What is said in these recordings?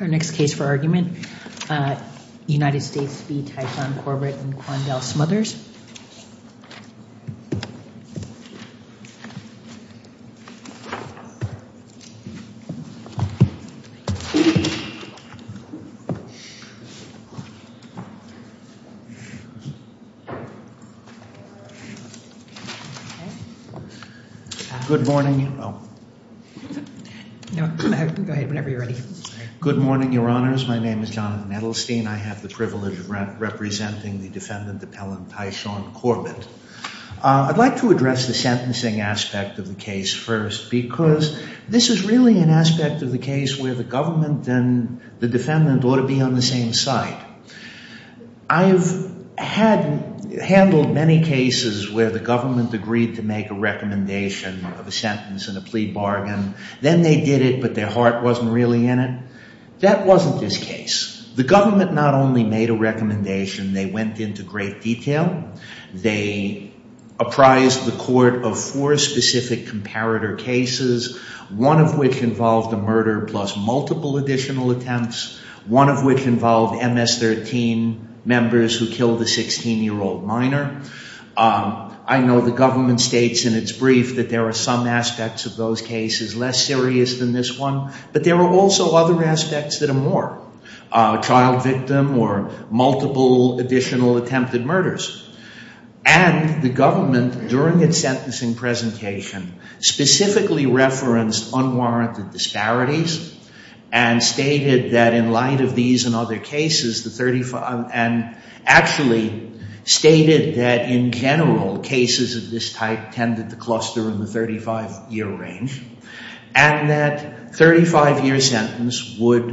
Our next case for argument, United States v. Typhon, Corbett v. Smothers Good morning, Your Honors. My name is Jonathan Edelstein. I have the privilege of representing the defendant appellant Typhon Corbett. I'd like to address the sentencing aspect of the case first because this is really an aspect of the case where the government and the defendant ought to be on the same side. I've handled many cases where the government agreed to make a recommendation of a sentence and a plea bargain. Then they did it, but their heart wasn't really in it. That wasn't this case. The government not only made a recommendation, they went into great detail. They apprised the court of four specific comparator cases, one of which involved a murder plus multiple additional attempts, one of which involved MS-13 members who killed a 16-year-old minor. I know the government states in its brief that there are some aspects of those cases less serious than this one, but there are also other aspects that are more, a child victim or multiple additional attempted murders. And the government, during its sentencing presentation, specifically referenced unwarranted disparities and stated that in light of these and other cases, and actually stated that in general cases of this type tended to cluster in the 35-year range and that a 35-year sentence would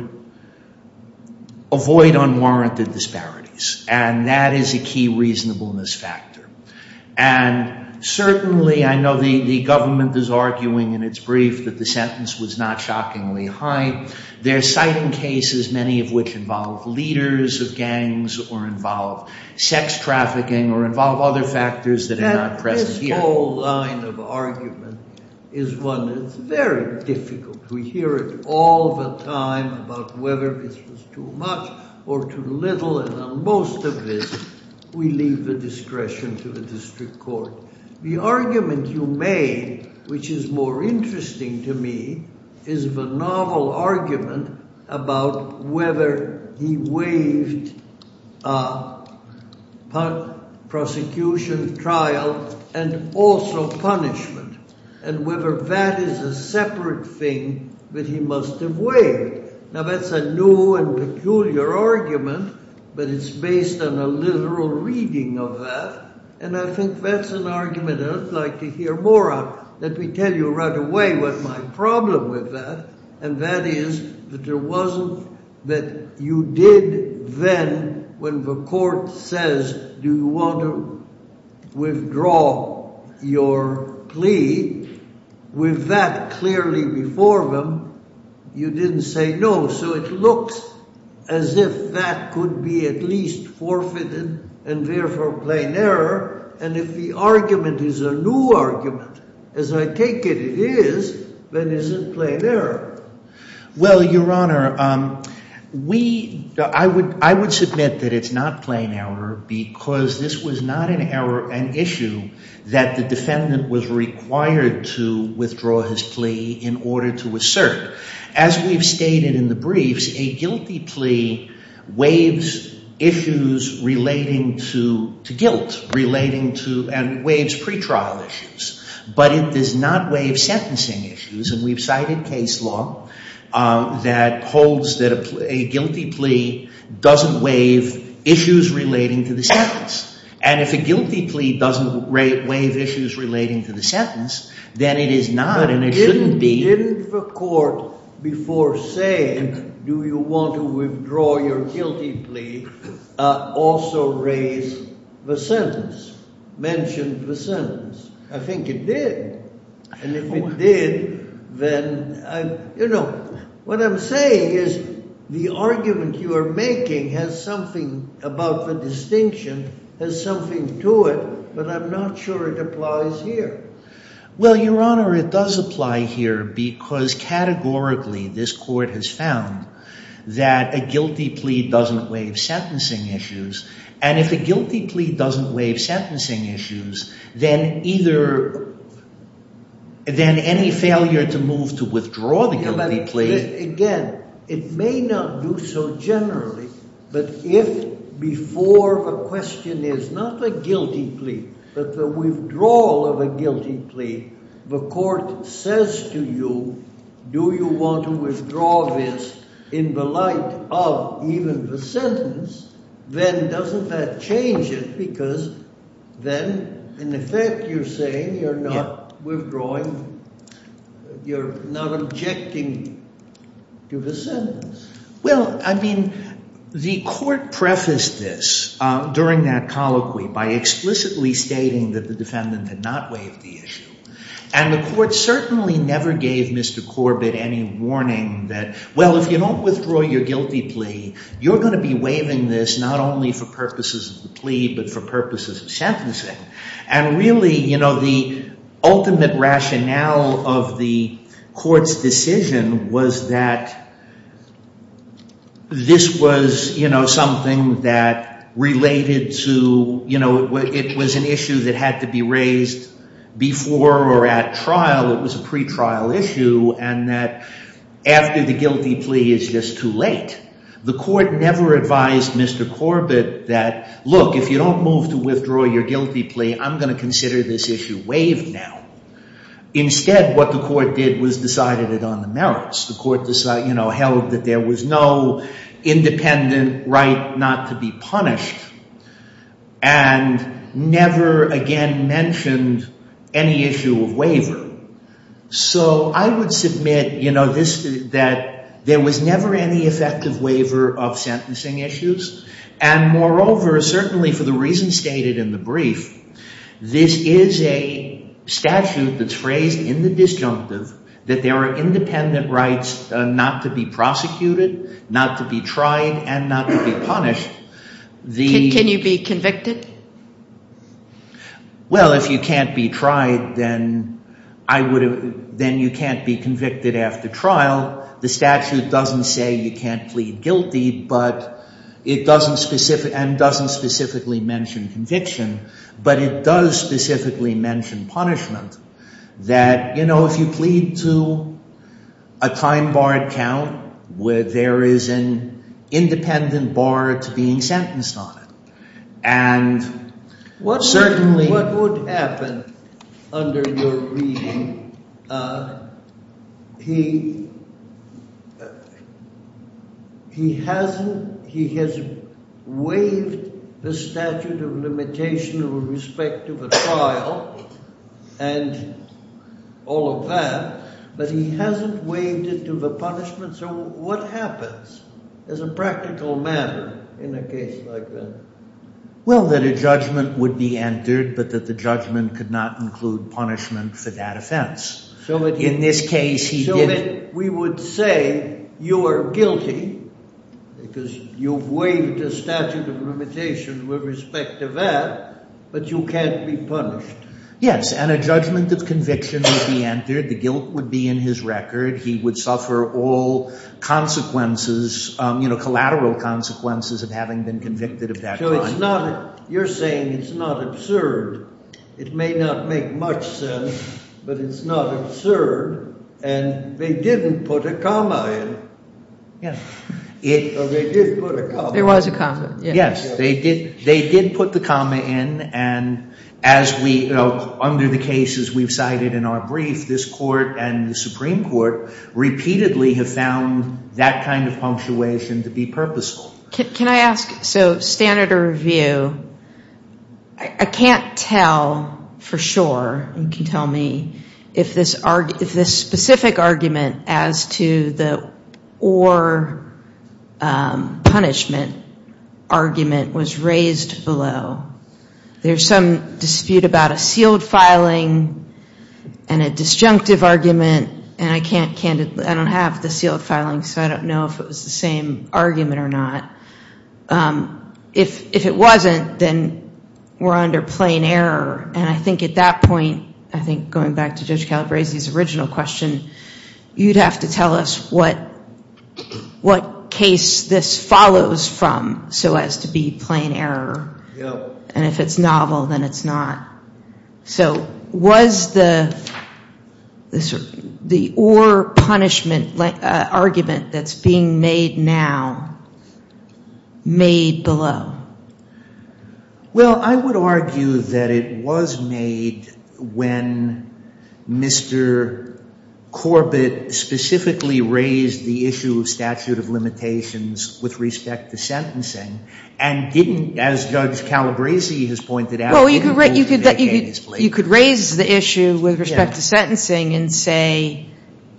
avoid unwarranted disparities. And that is a key reasonableness factor. And certainly I know the government is arguing in its brief that the sentence was not shockingly high. Their citing cases, many of which involved leaders of gangs or involved sex trafficking or involved other factors that are not present here. This whole line of argument is one that's very difficult. We hear it all the time about whether this was too much or too little, and on most of this, we leave the discretion to the district court. The argument you made, which is more interesting to me, is the novel argument about whether he waived prosecution, trial, and also punishment, and whether that is a separate thing that he must have waived. Now that's a new and peculiar argument, but it's based on a literal reading of that, and I think that's an argument I'd like to hear more of. Let me tell you right away what my problem with that, and that is that there wasn't that you did then when the court says, do you want to withdraw your plea? With that clearly before them, you didn't say no. So it looks as if that could be at least forfeited and therefore plain error, and if the argument is a new argument, as I take it it is, then is it plain error? Well, Your Honor, I would submit that it's not plain error because this was not an issue that the defendant was required to withdraw his plea in order to assert. As we've stated in the briefs, a guilty plea waives issues relating to guilt and waives pretrial issues, but it does not waive sentencing issues, and we've cited case law that holds that a guilty plea doesn't waive issues relating to the sentence, and if a guilty plea doesn't waive issues relating to the sentence, then it is not, and it shouldn't be. But didn't the court before saying, do you want to withdraw your guilty plea, also raise the sentence, mention the sentence? I think it did, and if it did, then, you know, what I'm saying is the argument you are making has something about the distinction, has something to it, but I'm not sure it applies here. Well, Your Honor, it does apply here because categorically this court has found that a guilty plea doesn't waive sentencing issues, and if a guilty plea doesn't waive sentencing issues, then either, then any failure to move to withdraw the guilty plea... Again, it may not do so generally, but if before a question is not a guilty plea but the withdrawal of a guilty plea, the court says to you, do you want to withdraw this in the light of even the sentence, then doesn't that change it because then, in effect, you're saying you're not withdrawing, you're not objecting to the sentence. Well, I mean, the defendant did not waive the issue, and the court certainly never gave Mr. Corbett any warning that, well, if you don't withdraw your guilty plea, you're going to be waiving this not only for purposes of the plea but for purposes of sentencing, and really, you know, the ultimate rationale of the court's decision was that this was, you know, something that related to, you know, it was an issue that had to be raised before or at trial. It was a pretrial issue, and that after the guilty plea is just too late. The court never advised Mr. Corbett that, look, if you don't move to withdraw your guilty plea, I'm going to consider this issue waived now. Instead, what the court did was decided it on the merits. The court, you know, held that there was no independent right not to be punished and never again mentioned any issue of waiver. So I would submit, you know, that there was never any effective waiver of sentencing issues, and moreover, certainly for the reasons stated in the brief, this is a statute that's phrased in the disjunctive that there are independent rights not to be prosecuted, not to be tried, and not to be punished. Can you be convicted? Well, if you can't be tried, then you can't be convicted after trial. The statute doesn't say you can't plead guilty, but it doesn't specifically mention conviction, but it does specifically mention punishment, that, you know, if you plead to a time barred count where there is an independent bar to being sentenced on it, and certainly... What would happen under your reading? He hasn't, he has waived the statute of limitation with respect to the trial and all of that, but he hasn't waived it to the punishment, so what happens as a practical matter in a case like that? Well, that a judgment would be entered, but that the judgment could not include punishment for that offense. In this case, he did... We would say you are guilty because you've waived the statute of limitation with respect to that, but you can't be punished. Yes, and a judgment of conviction would be entered, the guilt would be in his record, he would suffer all consequences, you know, collateral consequences of having been convicted of that crime. So it's not, you're saying it's not absurd. It may not make much sense, but it's not absurd, and they didn't put a comma in. Yes. Or they did put a comma in. There was a comma, yes. They did put the comma in, and as we, under the cases we've cited in our brief, this court and the Supreme Court repeatedly have found that kind of punctuation to be purposeful. Can I ask, so standard of review, I can't tell for sure, you can tell me, if this specific argument as to the or punishment argument was raised below. There's some dispute about a sealed filing and a disjunctive argument, and I can't, I don't have the sealed filing, so I don't know if it was the same argument or not. If it wasn't, then we're under plain error, and I think at that point, I think going back to Judge Calabresi's original question, you'd have to tell us what case this follows from so as to be plain error, and if it's novel, then it's not. So was the or punishment argument that's being made now made below? Well, I would argue that it was made when Mr. Corbett specifically raised the issue of statute of limitations with respect to sentencing, and didn't, as Judge Calabresi has pointed out, didn't make any explanations. Well, you could raise the issue with respect to sentencing and say,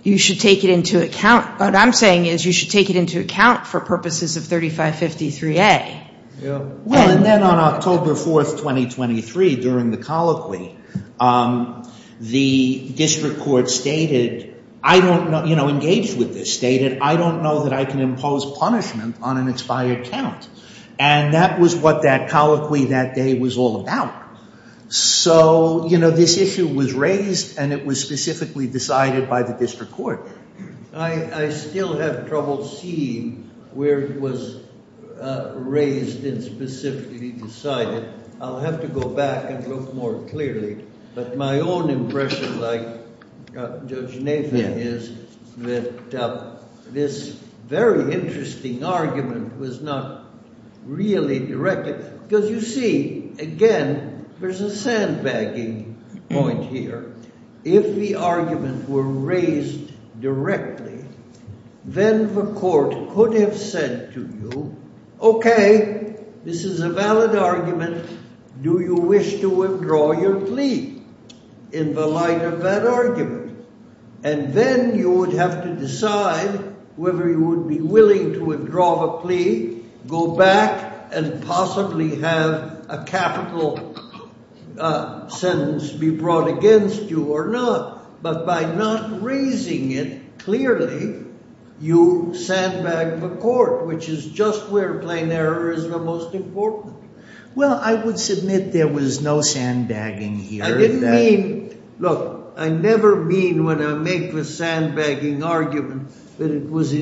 you should take it into account, what I'm saying is you should take it into account for purposes of 3553A. Well, and then on October 4th, 2023, during the colloquy, the district court stated, I don't know, you know, engaged with this, stated, I don't know that I can impose punishment on an expired count, and that was what that colloquy that day was all about. So, you know, this issue was raised, and it was specifically decided by the district court. I still have trouble seeing where it was raised and specifically decided. I'll have to go back and look more clearly. But my own impression, like Judge Nathan, is that this very interesting argument was not really directed, because you see, again, there's a sandbagging point here. If the argument were raised directly, then the court could have said to you, okay, this is a valid argument. Do you wish to withdraw your plea in the light of that argument? And then you would have to decide whether you would be willing to withdraw the plea, go back, and possibly have a capital sentence be brought against you or not. But by not raising it clearly, you sandbag the court, which is just where plain error is the most important. Well, I would submit there was no sandbagging here. I didn't mean, look, I never mean when I make the sandbagging argument that it was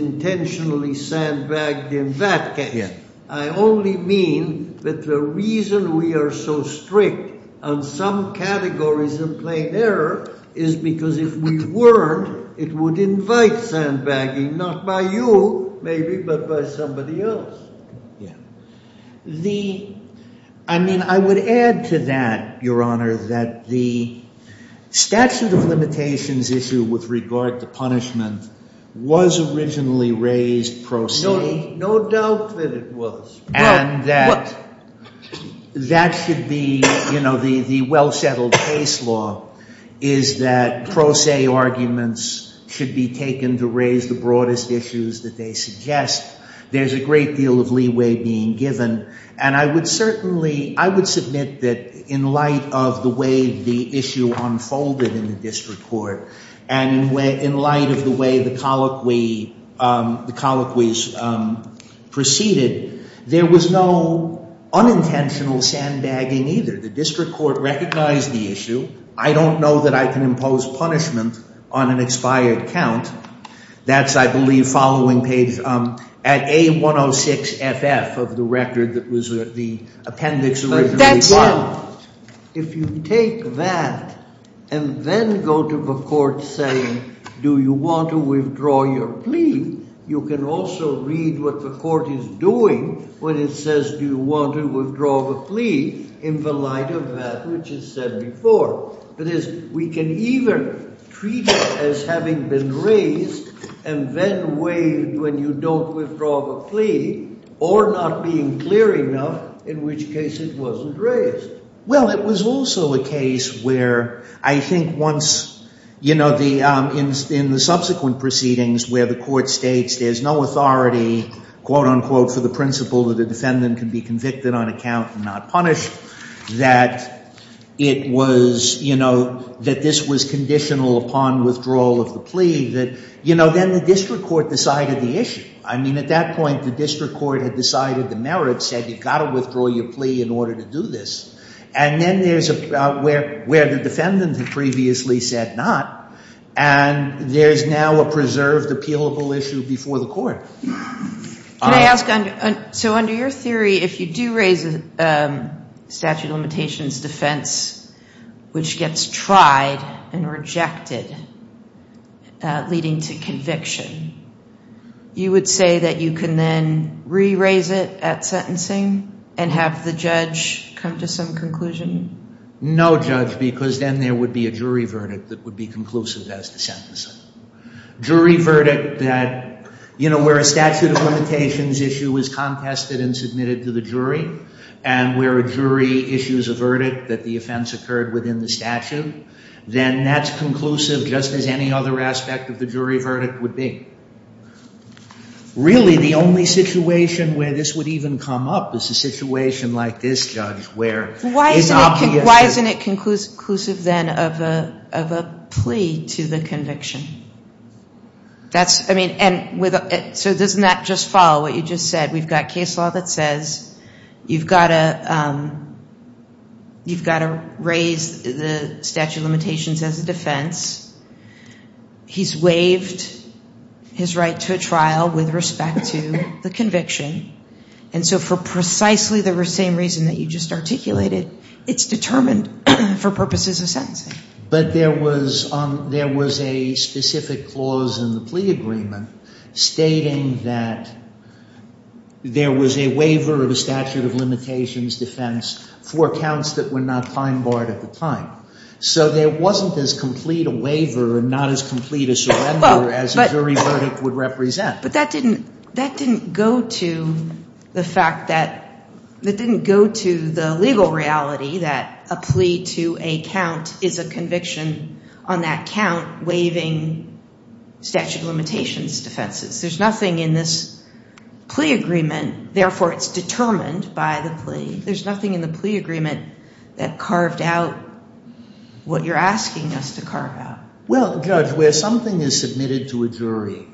I only mean that the reason we are so strict on some categories of plain error is because if we weren't, it would invite sandbagging, not by you, maybe, but by somebody else. I mean, I would add to that, Your Honor, that the statute of limitations issue with regard to punishment was originally raised pro se. No doubt that it was. And that should be, you know, the well-settled case law is that pro se arguments should be taken to raise the broadest issues that they suggest. There's a great deal of leeway being given. And I would certainly, I would submit that in light of the way the issue unfolded in the district court and in light of the way the colloquies proceeded, there was no unintentional sandbagging either. The district court recognized the issue. I don't know that I can impose punishment on an expired count. That's, I believe, following page at A106FF of the record that was the appendix originally filed. Now, if you take that and then go to the court saying, do you want to withdraw your plea, you can also read what the court is doing when it says, do you want to withdraw the plea in the light of that which is said before. That is, we can either treat it as having been raised and then waived when you don't withdraw the plea, or not being clear enough in which case it wasn't raised. Well, it was also a case where I think once, you know, in the subsequent proceedings where the court states there's no authority, quote unquote, for the principle that a defendant can be convicted on account and not punished, that it was, you know, that this was conditional upon withdrawal of the plea, that, you know, then the district court decided the issue. I mean, at that point, the district court had decided the merits, said you've got to withdraw your plea in order to do this. And then there's where the defendant had previously said not, and there's now a preserved appealable issue before the court. Can I ask, so under your theory, if you do raise a statute of limitations defense which gets tried and rejected, leading to conviction, you would say that you can then re-raise it at sentencing and have the judge come to some conclusion? No, Judge, because then there would be a jury verdict that would be conclusive as to sentencing. Jury verdict that, you know, where a statute of limitations issue was contested and submitted to the jury, and where a jury issues a verdict that the offense occurred within the statute, then that's conclusive just as any other aspect of the jury verdict would be. Really, the only situation where this would even come up is a situation like this, Judge, where it's not the issue. Why isn't it conclusive then of a plea to the conviction? That's, I mean, and so doesn't that just follow what you just said? We've got case law that says you've got to raise the statute of limitations as a defense. He's waived his right to a trial with respect to the conviction, and so for precisely the same reason that you just articulated, it's determined for purposes of sentencing. But there was a specific clause in the plea agreement stating that there was a waiver of a statute of limitations defense for counts that were not time barred at the time. So there wasn't as complete a waiver and not as complete a surrender as a jury verdict would represent. But that didn't go to the fact that, that didn't go to the legal reality that a plea to a count is a conviction on that count waiving statute of limitations defenses. There's nothing in this plea agreement, therefore it's determined by the plea. There's nothing in the plea agreement that carved out what you're asking us to carve out. Well, Judge, where something is submitted to a jury,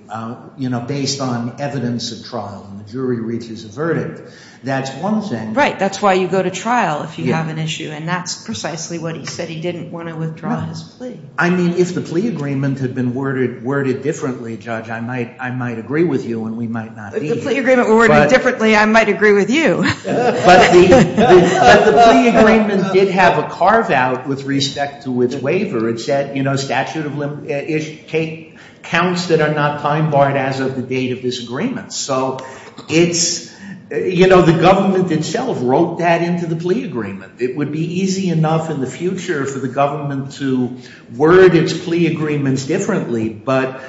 you know, based on evidence of trial, and the jury reaches a verdict, that's one thing. Right, that's why you go to trial if you have an issue, and that's precisely what he said. He didn't want to withdraw his plea. I mean, if the plea agreement had been worded differently, Judge, I might agree with you, and we might not be here. If the plea agreement were worded differently, I might agree with you. But the plea agreement did have a carve out with respect to its waiver. It said, you know, statute of limitation counts that are not time barred as of the date of this agreement. So it's, you know, the government itself wrote that into the plea agreement. It would be easy enough in the future for the government to word its plea agreements differently, but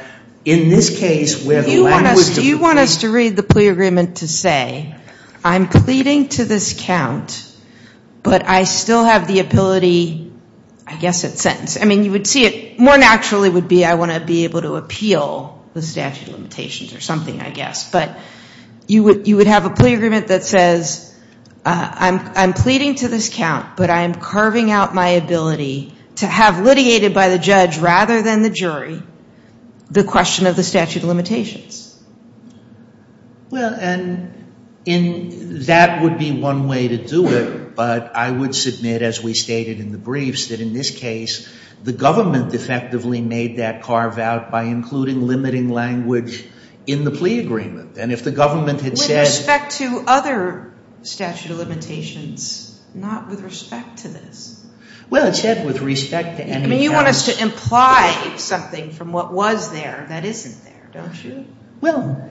in this case where the language of the plea agreement. Do you want us to read the plea agreement to say I'm pleading to this count, but I still have the ability, I guess, at sentence. I mean, you would see it more naturally would be I want to be able to appeal the statute of limitations or something, I guess. But you would have a plea agreement that says I'm pleading to this count, but I'm carving out my ability to have litigated by the judge rather than the jury the question of the statute of limitations. Well, and that would be one way to do it, but I would submit, as we stated in the briefs, that in this case the government effectively made that carve out by including limiting language in the plea agreement. And if the government had said. With respect to other statute of limitations, not with respect to this. Well, it said with respect to any. I mean, you want us to imply something from what was there that isn't there, don't you? Well,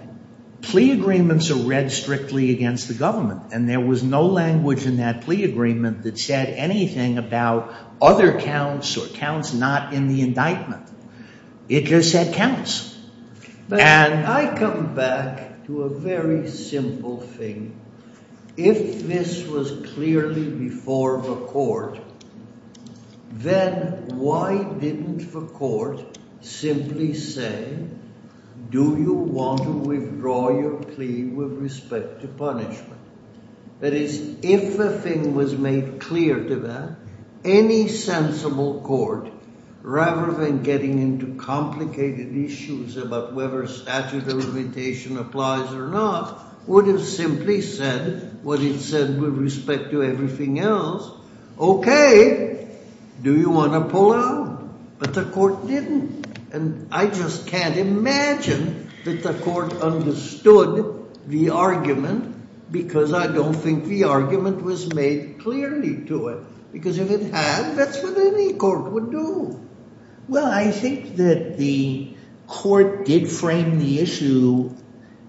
plea agreements are read strictly against the government, and there was no language in that plea agreement that said anything about other counts or counts not in the indictment. It just said counts. And I come back to a very simple thing. If this was clearly before the court, then why didn't the court simply say do you want to withdraw your plea with respect to punishment? That is, if a thing was made clear to that, any sensible court, rather than getting into complicated issues about whether statute of limitation applies or not, would have simply said what it said with respect to everything else. Okay, do you want to pull out? But the court didn't. And I just can't imagine that the court understood the argument because I don't think the argument was made clearly to it. Because if it had, that's what any court would do. Well, I think that the court did frame the issue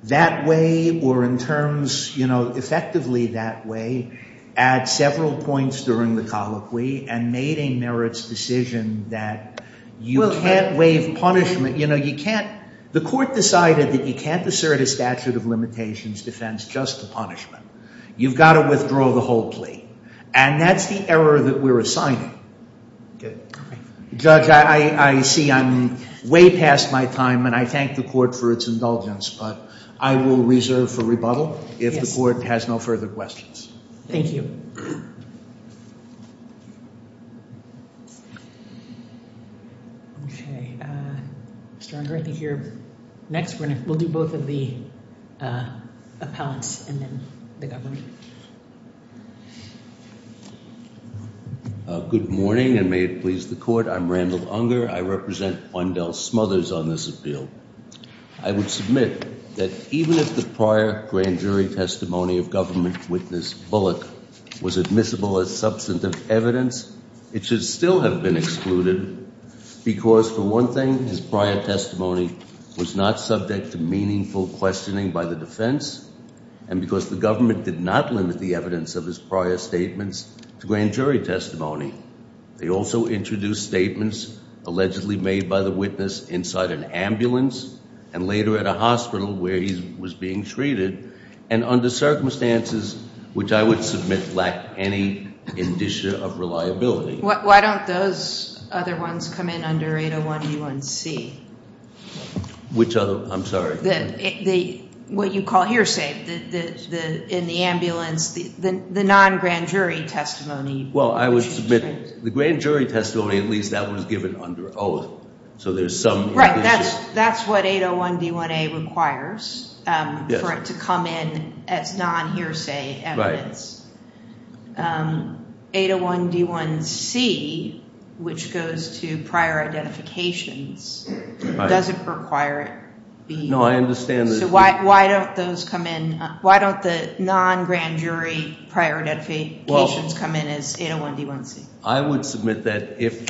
that way or in terms, you know, effectively that way at several points during the colloquy and made a merits decision that you can't waive punishment. You know, you can't, the court decided that you can't assert a statute of limitations defense just to punishment. You've got to withdraw the whole plea. And that's the error that we're assigning. Good. Judge, I see I'm way past my time and I thank the court for its indulgence, but I will reserve for rebuttal if the court has no further questions. Thank you. Okay, Mr. Ungar, I think you're next. We'll do both of the appellants and then the government. Good morning and may it please the court. I'm Randall Ungar. I represent Bundell Smothers on this appeal. I would submit that even if the prior grand jury testimony of government witness Bullock was admissible as substantive evidence, it should still have been excluded. Because for one thing, his prior testimony was not subject to meaningful questioning by the defense. And because the government did not limit the evidence of his prior statements to grand jury testimony. They also introduced statements allegedly made by the witness inside an ambulance and later at a hospital where he was being treated. And under circumstances which I would submit lack any indicia of reliability. Why don't those other ones come in under 801D1C? Which other? I'm sorry. What you call hearsay in the ambulance, the non-grand jury testimony. Well, I would submit the grand jury testimony, at least that was given under oath. So there's some indicia. Right, that's what 801D1A requires for it to come in as non-hearsay evidence. 801D1C, which goes to prior identifications, doesn't require it. No, I understand. So why don't those come in, why don't the non-grand jury prior identifications come in as 801D1C? I would submit that if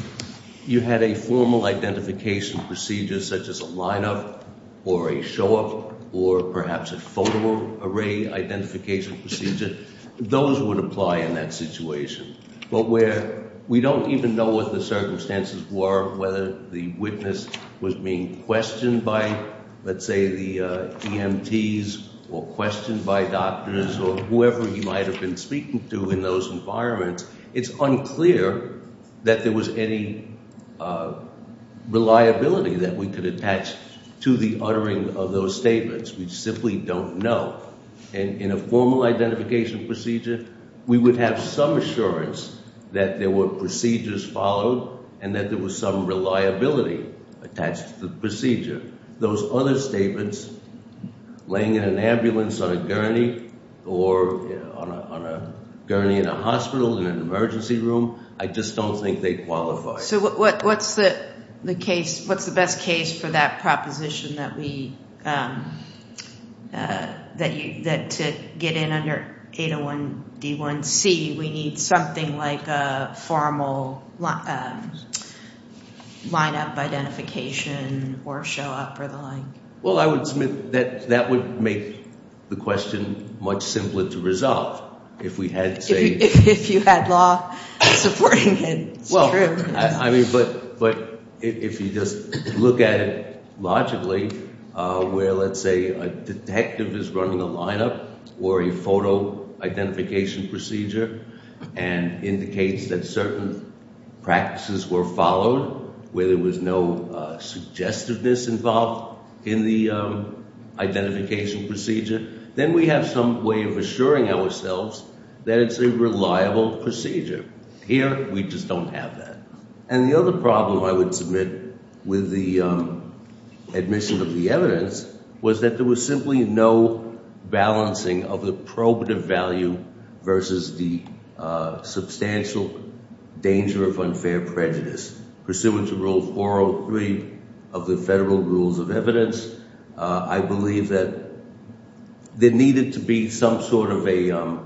you had a formal identification procedure such as a line-up or a show-up or perhaps a photo array identification procedure, those would apply in that situation. But where we don't even know what the circumstances were, whether the witness was being questioned by, let's say, the EMTs or questioned by doctors or whoever he might have been speaking to in those environments. It's unclear that there was any reliability that we could attach to the uttering of those statements. We simply don't know. And in a formal identification procedure, we would have some assurance that there were procedures followed and that there was some reliability attached to the procedure. Those other statements, laying in an ambulance on a gurney or on a gurney in a hospital in an emergency room, I just don't think they qualify. So what's the best case for that proposition that to get in under 801D1C, we need something like a formal line-up identification or show-up or the like? Well, I would submit that that would make the question much simpler to resolve. If you had law supporting it, it's true. But if you just look at it logically where, let's say, a detective is running a line-up or a photo identification procedure and indicates that certain practices were followed, where there was no suggestiveness involved in the identification procedure, then we have some way of assuring ourselves that it's a reliable procedure. Here, we just don't have that. And the other problem I would submit with the admission of the evidence was that there was simply no balancing of the probative value versus the substantial danger of unfair prejudice. Pursuant to Rule 403 of the Federal Rules of Evidence, I believe that there needed to be some sort of a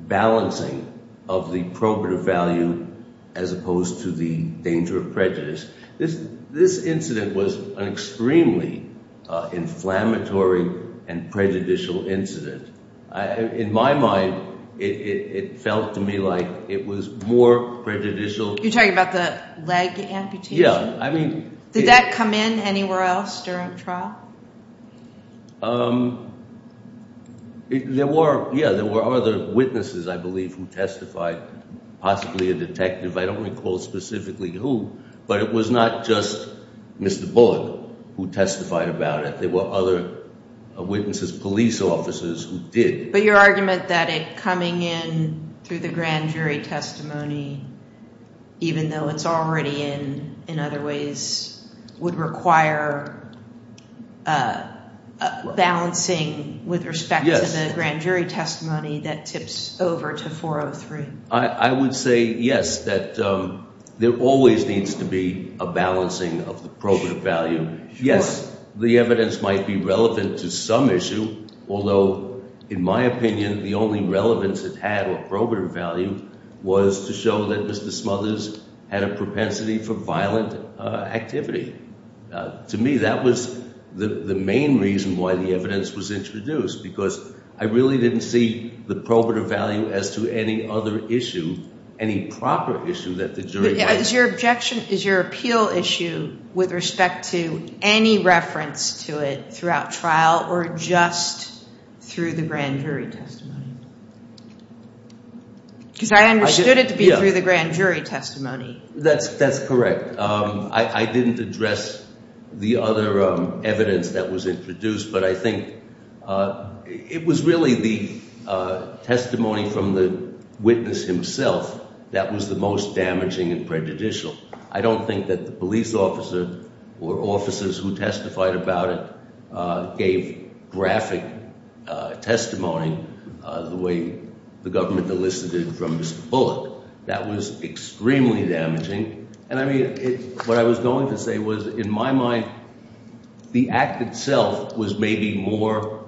balancing of the probative value as opposed to the danger of prejudice. This incident was an extremely inflammatory and prejudicial incident. In my mind, it felt to me like it was more prejudicial. You're talking about the leg amputation? Did that come in anywhere else during the trial? There were other witnesses, I believe, who testified, possibly a detective. I don't recall specifically who, but it was not just Mr. Bullock who testified about it. There were other witnesses, police officers, who did. But your argument that it coming in through the grand jury testimony, even though it's already in other ways, would require balancing with respect to the grand jury testimony that tips over to 403. I would say yes, that there always needs to be a balancing of the probative value. Yes, the evidence might be relevant to some issue, although in my opinion, the only relevance it had or probative value was to show that Mr. Smothers had a propensity for violent activity. To me, that was the main reason why the evidence was introduced, because I really didn't see the probative value as to any other issue, any proper issue that the jury might have. Is your appeal issue with respect to any reference to it throughout trial or just through the grand jury testimony? Because I understood it to be through the grand jury testimony. That's correct. I didn't address the other evidence that was introduced, but I think it was really the testimony from the witness himself that was the most damaging and prejudicial. I don't think that the police officer or officers who testified about it gave graphic testimony the way the government elicited from Mr. Bullock. That was extremely damaging, and I mean, what I was going to say was, in my mind, the act itself was maybe more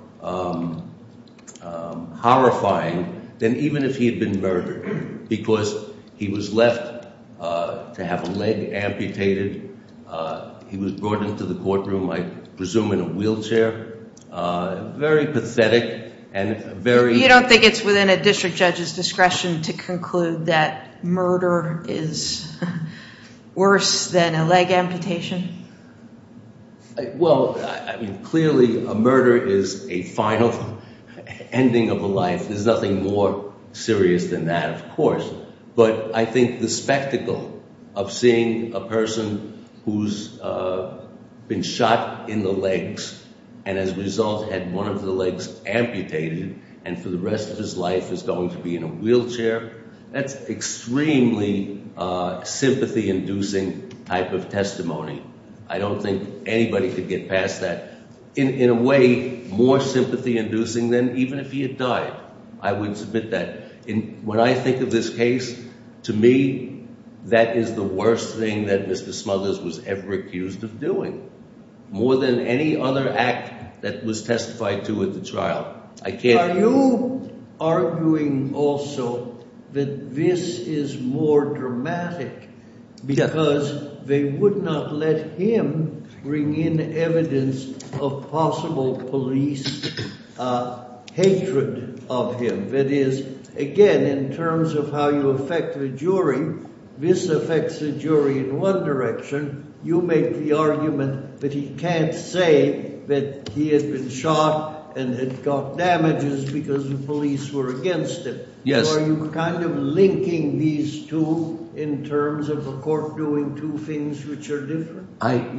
horrifying than even if he had been murdered, because he was left to have a leg amputated. He was brought into the courtroom, I presume in a wheelchair. Very pathetic and very... Do you think that murder is worse than a leg amputation? Well, clearly a murder is a final ending of a life. There's nothing more serious than that, of course. But I think the spectacle of seeing a person who's been shot in the legs and as a result had one of the legs amputated and for the rest of his life is going to be in a wheelchair, that's extremely sympathy-inducing type of testimony. I don't think anybody could get past that. In a way, more sympathy-inducing than even if he had died. I would submit that. When I think of this case, to me, that is the worst thing that Mr. Smothers was ever accused of doing, more than any other act that was testified to at the trial. Are you arguing also that this is more dramatic because they would not let him bring in evidence of possible police hatred of him? That is, again, in terms of how you affect the jury, this affects the jury in one direction. You make the argument that he can't say that he had been shot and had got damages because the police were against him. Yes. Are you kind of linking these two in terms of the court doing two things which are different?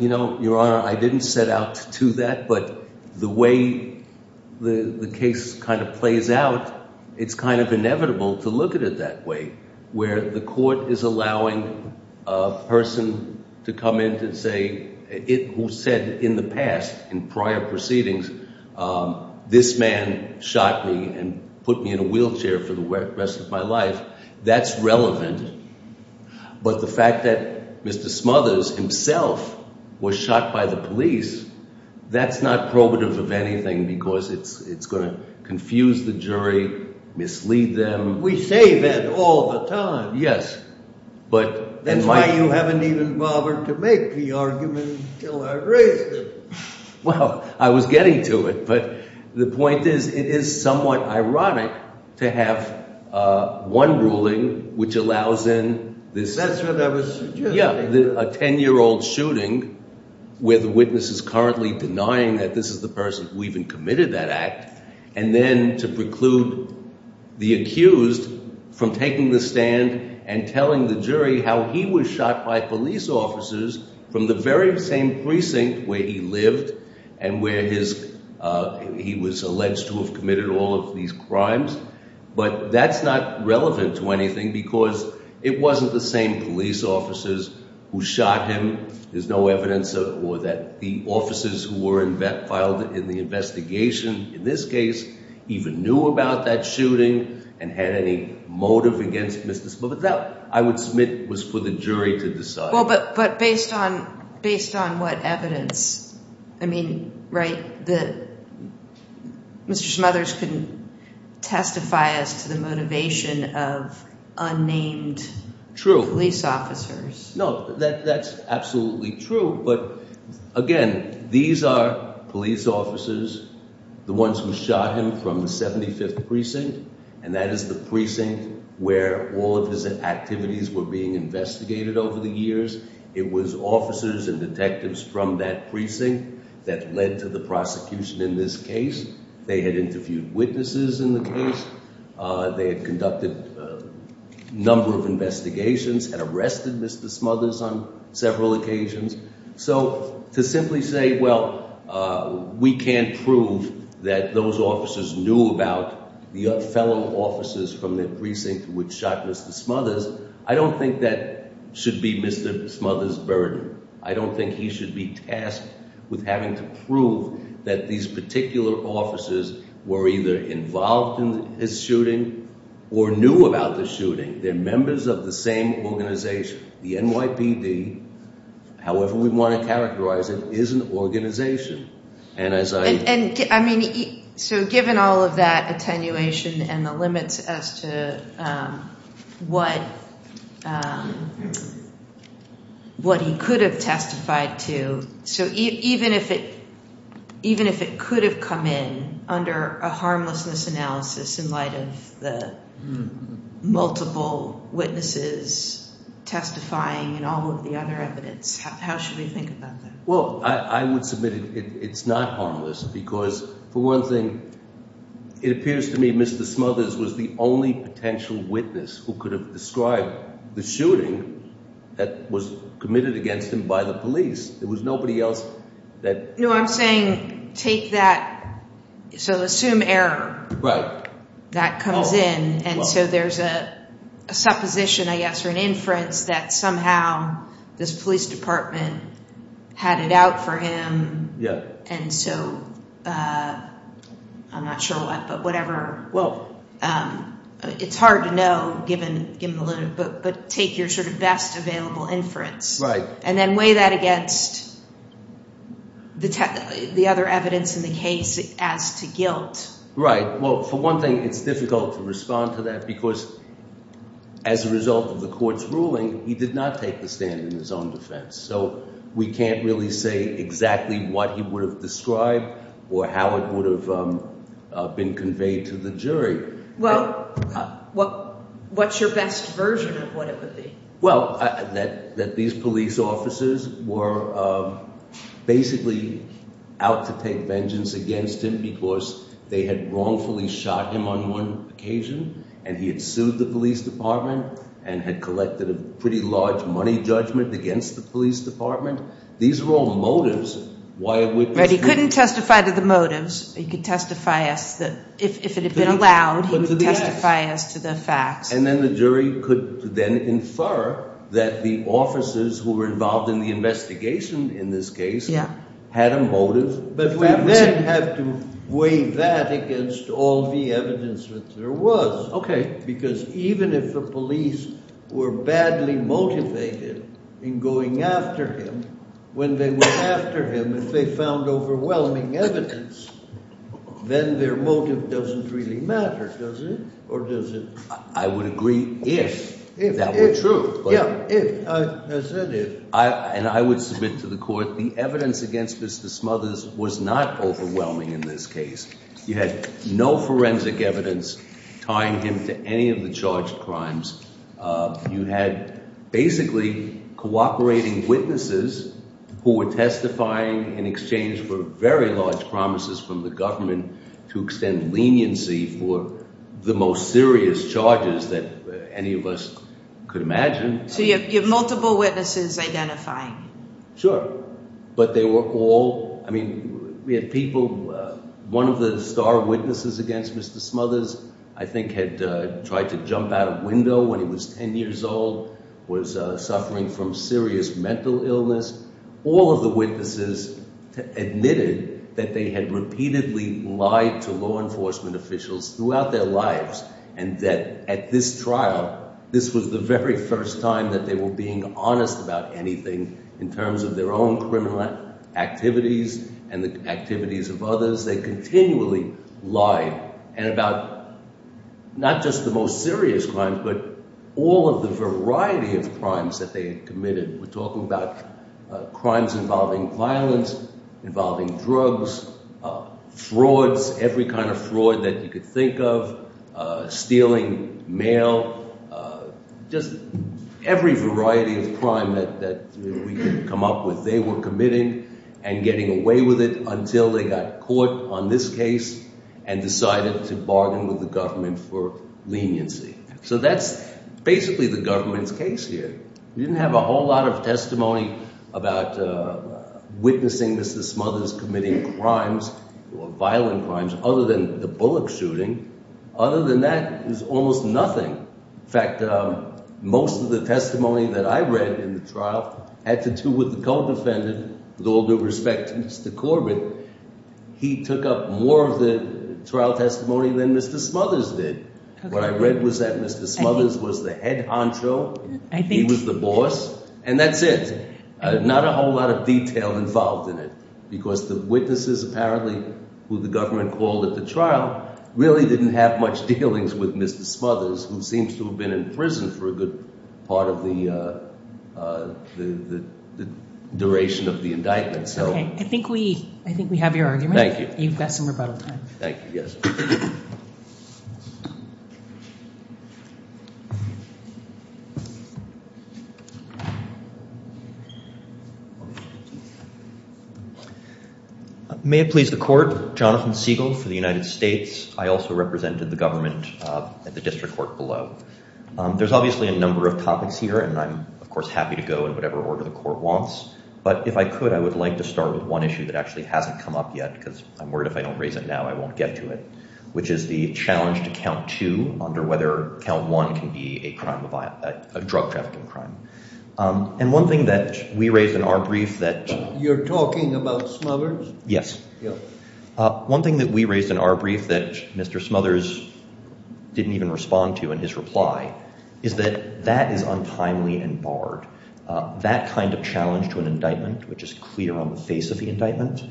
Your Honor, I didn't set out to do that, but the way the case kind of plays out, it's kind of inevitable to look at it that way where the court is allowing a person to come in to say who said in the past, in prior proceedings, this man shot me and put me in a wheelchair for the rest of my life. That's relevant, but the fact that Mr. Smothers himself was shot by the police, that's not probative of anything because it's going to confuse the jury, mislead them. We say that all the time. Yes. That's why you haven't even bothered to make the argument till I raised it. Well, I was getting to it, but the point is it is somewhat ironic to have one ruling which allows in this… That's what I was suggesting. …a 10-year-old shooting where the witness is currently denying that this is the person who even committed that act, and then to preclude the accused from taking the stand and telling the jury how he was shot by police officers from the very same precinct where he lived and where he was alleged to have committed all of these crimes. But that's not relevant to anything because it wasn't the same police officers who shot him. There's no evidence that the officers who were filed in the investigation in this case even knew about that shooting and had any motive against Mr. Smothers. That, I would submit, was for the jury to decide. But based on what evidence? I mean, right, that Mr. Smothers couldn't testify as to the motivation of unnamed police officers. No, that's absolutely true. But, again, these are police officers, the ones who shot him from the 75th Precinct, and that is the precinct where all of his activities were being investigated over the years. It was officers and detectives from that precinct that led to the prosecution in this case. They had interviewed witnesses in the case. They had conducted a number of investigations, had arrested Mr. Smothers on several occasions. So to simply say, well, we can't prove that those officers knew about the fellow officers from that precinct which shot Mr. Smothers, I don't think that should be Mr. Smothers' burden. I don't think he should be tasked with having to prove that these particular officers were either involved in his shooting or knew about the shooting. They're members of the same organization. The NYPD, however we want to characterize it, is an organization. I mean, so given all of that attenuation and the limits as to what he could have testified to, so even if it could have come in under a harmlessness analysis in light of the multiple witnesses testifying and all of the other evidence, how should we think about that? Well, I would submit it's not harmless because for one thing, it appears to me Mr. Smothers was the only potential witness who could have described the shooting that was committed against him by the police. There was nobody else that… No, I'm saying take that, so assume error. And so there's a supposition, I guess, or an inference that somehow this police department had it out for him and so I'm not sure what, but whatever. Well… It's hard to know given the limit, but take your sort of best available inference. And then weigh that against the other evidence in the case as to guilt. Right. Well, for one thing, it's difficult to respond to that because as a result of the court's ruling, he did not take the stand in his own defense. So we can't really say exactly what he would have described or how it would have been conveyed to the jury. Well, what's your best version of what it would be? Well, that these police officers were basically out to take vengeance against him because they had wrongfully shot him on one occasion and he had sued the police department and had collected a pretty large money judgment against the police department. These were all motives. But he couldn't testify to the motives. He could testify if it had been allowed, he would testify as to the facts. And then the jury could then infer that the officers who were involved in the investigation in this case had a motive. But we then have to weigh that against all the evidence that there was. Okay. Because even if the police were badly motivated in going after him, when they went after him, if they found overwhelming evidence, then their motive doesn't really matter, does it? Or does it… I would agree if that were true. Yeah, if. I said if. And I would submit to the court the evidence against Mr. Smothers was not overwhelming in this case. You had no forensic evidence tying him to any of the charged crimes. You had basically cooperating witnesses who were testifying in exchange for very large promises from the government to extend leniency for the most serious charges that any of us could imagine. So you have multiple witnesses identifying. Sure. But they were all – I mean, we had people – one of the star witnesses against Mr. Smothers I think had tried to jump out a window when he was 10 years old, was suffering from serious mental illness. All of the witnesses admitted that they had repeatedly lied to law enforcement officials throughout their lives and that at this trial, this was the very first time that they were being honest about anything in terms of their own criminal activities and the activities of others. They continually lied and about not just the most serious crimes, but all of the variety of crimes that they had committed. We're talking about crimes involving violence, involving drugs, frauds, every kind of fraud that you could think of, stealing mail, just every variety of crime that we could come up with. They were committing and getting away with it until they got caught on this case and decided to bargain with the government for leniency. So that's basically the government's case here. We didn't have a whole lot of testimony about witnessing Mr. Smothers committing crimes or violent crimes other than the bullet shooting. Other than that, it was almost nothing. In fact, most of the testimony that I read in the trial had to do with the co-defendant with all due respect to Mr. Corbin. He took up more of the trial testimony than Mr. Smothers did. What I read was that Mr. Smothers was the head honcho. He was the boss and that's it. Not a whole lot of detail involved in it because the witnesses apparently who the government called at the trial really didn't have much dealings with Mr. Smothers who seems to have been in prison for a good part of the duration of the indictment. I think we have your argument. Thank you. You've got some rebuttal time. May it please the court, Jonathan Siegel for the United States. I also represented the government at the district court below. There's obviously a number of topics here and I'm, of course, happy to go in whatever order the court wants. But if I could, I would like to start with one issue that actually hasn't come up yet because I'm worried if I don't raise it now, I won't get to it, which is the challenge to count two under whether count one can be a drug trafficking crime. And one thing that we raised in our brief that you're talking about Smothers. Yes. One thing that we raised in our brief that Mr. Smothers didn't even respond to in his reply is that that is untimely and barred. That kind of challenge to an indictment, which is clear on the face of the indictment,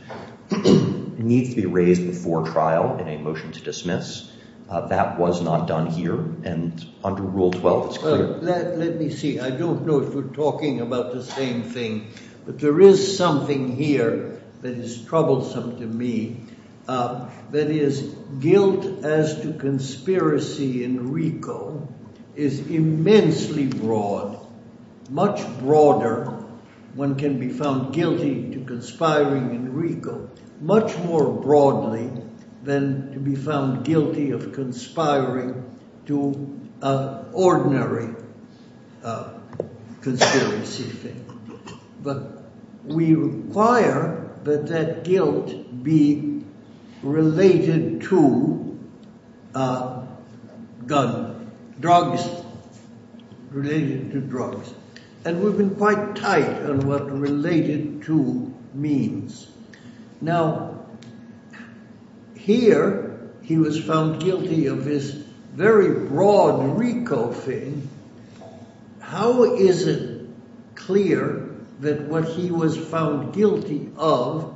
needs to be raised before trial in a motion to dismiss. That was not done here and under Rule 12. Let me see. I don't know if we're talking about the same thing, but there is something here that is troublesome to me. That is, guilt as to conspiracy in RICO is immensely broad, much broader. One can be found guilty to conspiring in RICO much more broadly than to be found guilty of conspiring to ordinary conspiracy. But we require that that guilt be related to drugs. And we've been quite tight on what related to means. Now, here he was found guilty of this very broad RICO thing. How is it clear that what he was found guilty of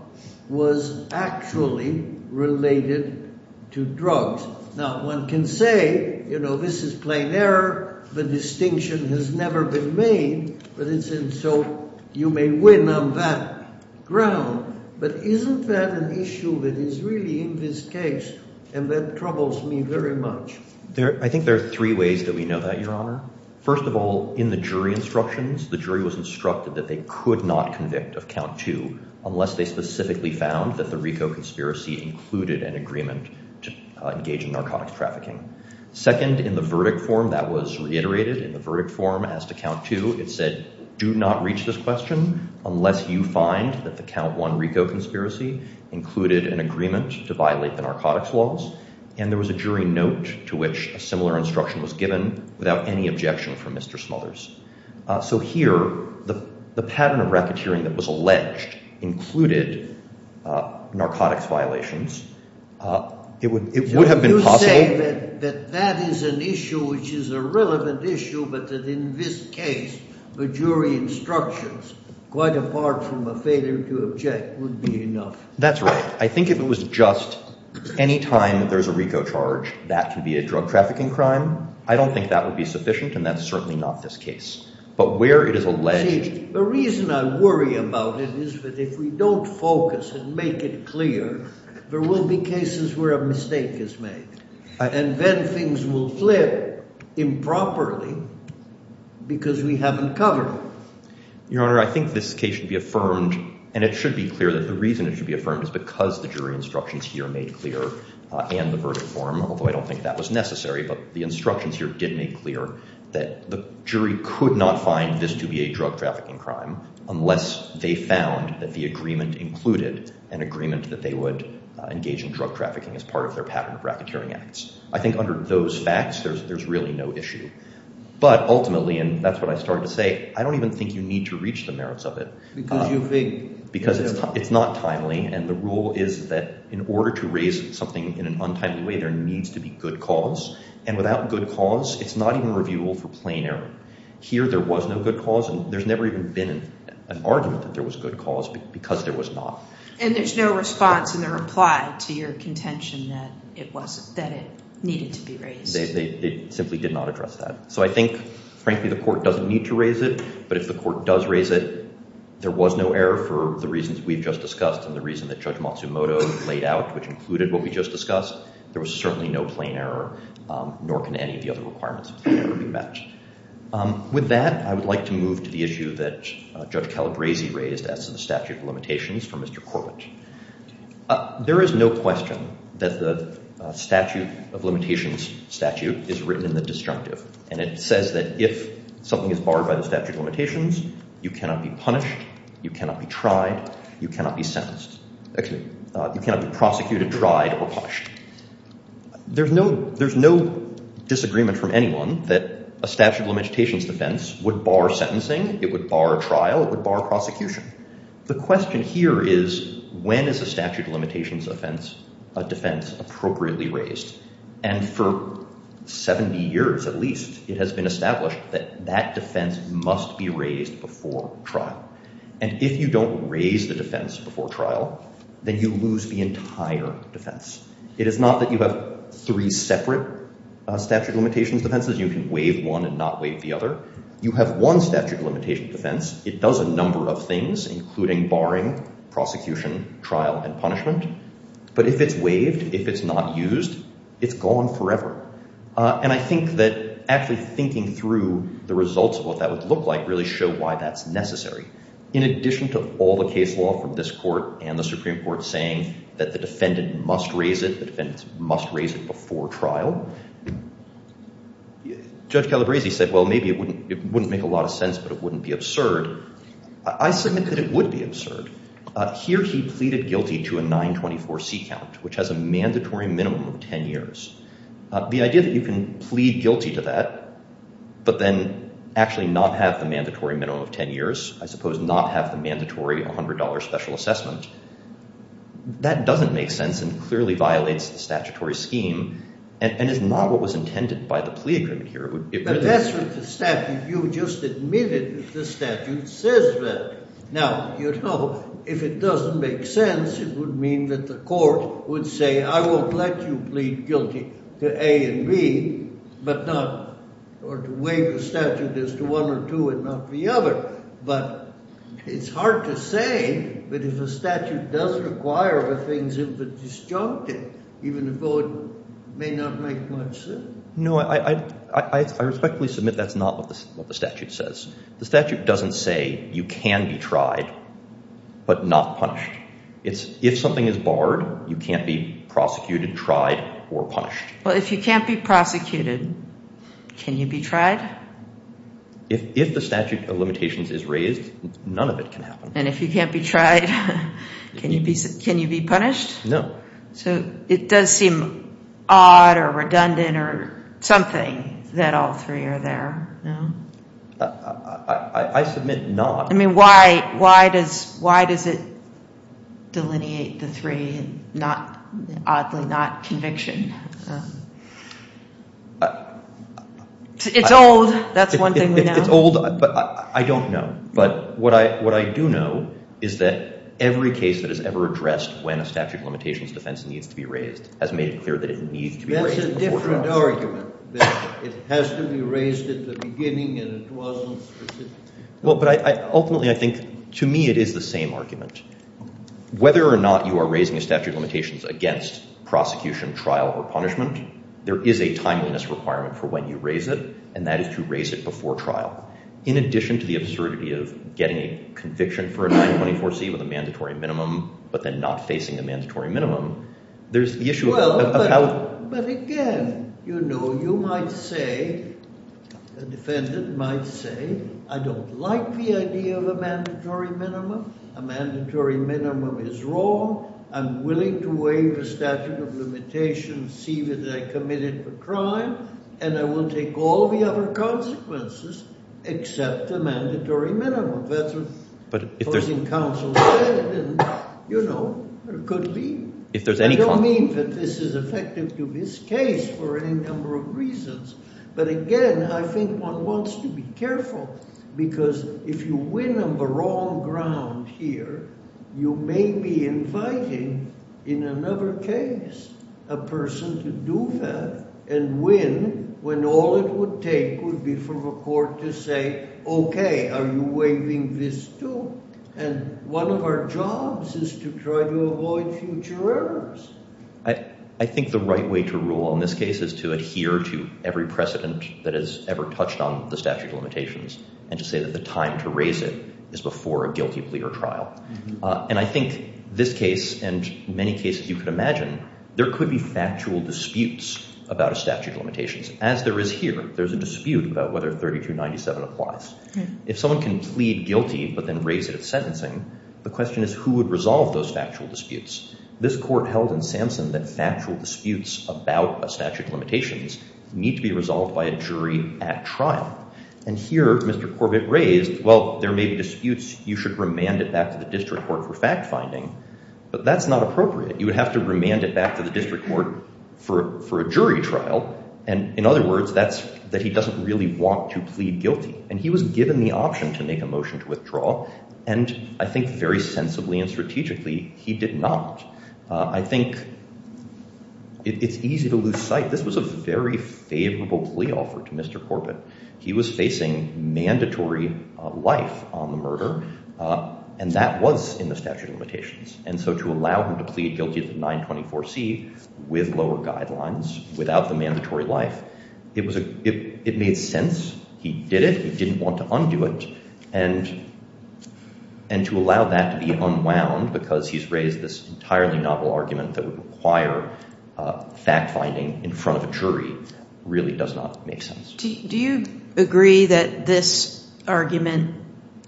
was actually related to drugs? Now, one can say, you know, this is plain error. The distinction has never been made. So you may win on that ground. But isn't that an issue that is really in this case? And that troubles me very much. I think there are three ways that we know that, Your Honor. First of all, in the jury instructions, the jury was instructed that they could not convict of Count 2 unless they specifically found that the RICO conspiracy included an agreement to engage in narcotics trafficking. Second, in the verdict form, that was reiterated in the verdict form as to Count 2. It said, do not reach this question unless you find that the Count 1 RICO conspiracy included an agreement to violate the narcotics laws. And there was a jury note to which a similar instruction was given without any objection from Mr. Smothers. So here the pattern of racketeering that was alleged included narcotics violations. It would have been possible. You say that that is an issue which is a relevant issue, but that in this case the jury instructions, quite apart from a failure to object, would be enough. That's right. I think if it was just any time that there's a RICO charge, that could be a drug trafficking crime. I don't think that would be sufficient, and that's certainly not this case. But where it is alleged— See, the reason I worry about it is that if we don't focus and make it clear, there will be cases where a mistake is made. And then things will flip improperly because we haven't covered it. Your Honor, I think this case should be affirmed, and it should be clear that the reason it should be affirmed is because the jury instructions here made clear, and the verdict form, although I don't think that was necessary, but the instructions here did make clear that the jury could not find this to be a drug trafficking crime unless they found that the agreement included an agreement that they would engage in drug trafficking as part of their pattern of racketeering acts. I think under those facts, there's really no issue. But ultimately, and that's what I started to say, I don't even think you need to reach the merits of it. Because it's not timely, and the rule is that in order to raise something in an untimely way, there needs to be good cause. And without good cause, it's not even reviewable for plain error. Here, there was no good cause, and there's never even been an argument that there was good cause because there was not. And there's no response in the reply to your contention that it needed to be raised. It simply did not address that. So I think, frankly, the court doesn't need to raise it. But if the court does raise it, there was no error for the reasons we've just discussed and the reason that Judge Matsumoto laid out, which included what we just discussed. There was certainly no plain error, nor can any of the other requirements ever be met. With that, I would like to move to the issue that Judge Calabresi raised as to the statute of limitations for Mr. Corbett. There is no question that the statute of limitations statute is written in the disjunctive. And it says that if something is barred by the statute of limitations, you cannot be punished, you cannot be tried, you cannot be sentenced. Actually, you cannot be prosecuted, tried, or punished. There's no disagreement from anyone that a statute of limitations defense would bar sentencing, it would bar trial, it would bar prosecution. The question here is, when is a statute of limitations defense appropriately raised? And for 70 years, at least, it has been established that that defense must be raised before trial. And if you don't raise the defense before trial, then you lose the entire defense. It is not that you have three separate statute of limitations defenses, you can waive one and not waive the other. You have one statute of limitations defense, it does a number of things, including barring, prosecution, trial, and punishment. But if it's waived, if it's not used, it's gone forever. And I think that actually thinking through the results of what that would look like really show why that's necessary. In addition to all the case law from this court and the Supreme Court saying that the defendant must raise it, the defendant must raise it before trial, Judge Calabresi said, well, maybe it wouldn't make a lot of sense, but it wouldn't be absurd. I submit that it would be absurd. Here he pleaded guilty to a 924C count, which has a mandatory minimum of 10 years. The idea that you can plead guilty to that, but then actually not have the mandatory minimum of 10 years, I suppose not have the mandatory $100 special assessment, that doesn't make sense and clearly violates the statutory scheme. And it's not what was intended by the plea agreement here. But that's what the statute, you just admitted that the statute says that. Now, you know, if it doesn't make sense, it would mean that the court would say, I won't let you plead guilty to A and B, or to waive the statute as to one or two and not the other. But it's hard to say, but if a statute does require the things that were disjuncted, even a vote may not make much sense. No, I respectfully submit that's not what the statute says. The statute doesn't say you can be tried, but not punished. It's if something is barred, you can't be prosecuted, tried, or punished. Well, if you can't be prosecuted, can you be tried? If the statute of limitations is raised, none of it can happen. And if you can't be tried, can you be punished? No. So it does seem odd or redundant or something that all three are there, no? I submit not. I mean, why does it delineate the three, oddly not conviction? It's old. That's one thing we know. It's old, but I don't know. But what I do know is that every case that is ever addressed when a statute of limitations defense needs to be raised has made it clear that it needs to be raised before trial. That's a different argument, that it has to be raised at the beginning and it wasn't specific. Well, but ultimately I think to me it is the same argument. Whether or not you are raising a statute of limitations against prosecution, trial, or punishment, there is a timeliness requirement for when you raise it, and that is to raise it before trial. In addition to the absurdity of getting a conviction for a 924C with a mandatory minimum, but then not facing a mandatory minimum, there's the issue of how— Well, but again, you know, you might say, a defendant might say, I don't like the idea of a mandatory minimum. A mandatory minimum is wrong. I'm willing to waive the statute of limitations, see that I committed the crime, and I will take all the other consequences except the mandatory minimum. That's what the opposing counsel said, and, you know, it could be. I don't mean that this is effective to this case for any number of reasons, but again, I think one wants to be careful because if you win on the wrong ground here, you may be inviting in another case a person to do that and win when all it would take would be for the court to say, okay, are you waiving this too? And one of our jobs is to try to avoid future errors. I think the right way to rule in this case is to adhere to every precedent that has ever touched on the statute of limitations and to say that the time to raise it is before a guilty plea or trial. And I think this case and many cases you could imagine, there could be factual disputes about a statute of limitations, as there is here. There's a dispute about whether 3297 applies. If someone can plead guilty but then raise it at sentencing, the question is who would resolve those factual disputes. This court held in Samson that factual disputes about a statute of limitations need to be resolved by a jury at trial. And here, Mr. Corbett raised, well, there may be disputes. You should remand it back to the district court for fact-finding. But that's not appropriate. You would have to remand it back to the district court for a jury trial. And in other words, that's that he doesn't really want to plead guilty. And he was given the option to make a motion to withdraw. And I think very sensibly and strategically, he did not. I think it's easy to lose sight. This was a very favorable plea offer to Mr. Corbett. He was facing mandatory life on the murder, and that was in the statute of limitations. And so to allow him to plead guilty to 924C with lower guidelines, without the mandatory life, it made sense. He did it. He didn't want to undo it. And to allow that to be unwound because he's raised this entirely novel argument that would require fact-finding in front of a jury really does not make sense. Do you agree that this argument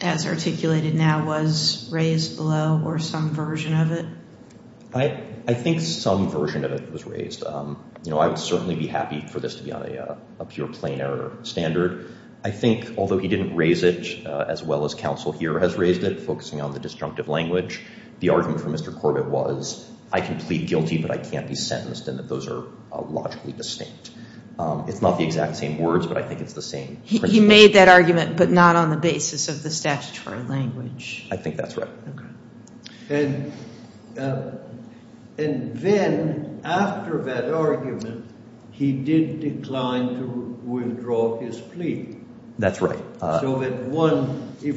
as articulated now was raised below or some version of it? I think some version of it was raised. I would certainly be happy for this to be on a pure plain error standard. I think although he didn't raise it as well as counsel here has raised it, focusing on the disjunctive language, the argument for Mr. Corbett was, I can plead guilty, but I can't be sentenced, and that those are logically distinct. It's not the exact same words, but I think it's the same principle. He made that argument but not on the basis of the statutory language. I think that's right. And then after that argument, he did decline to withdraw his plea. That's right. So if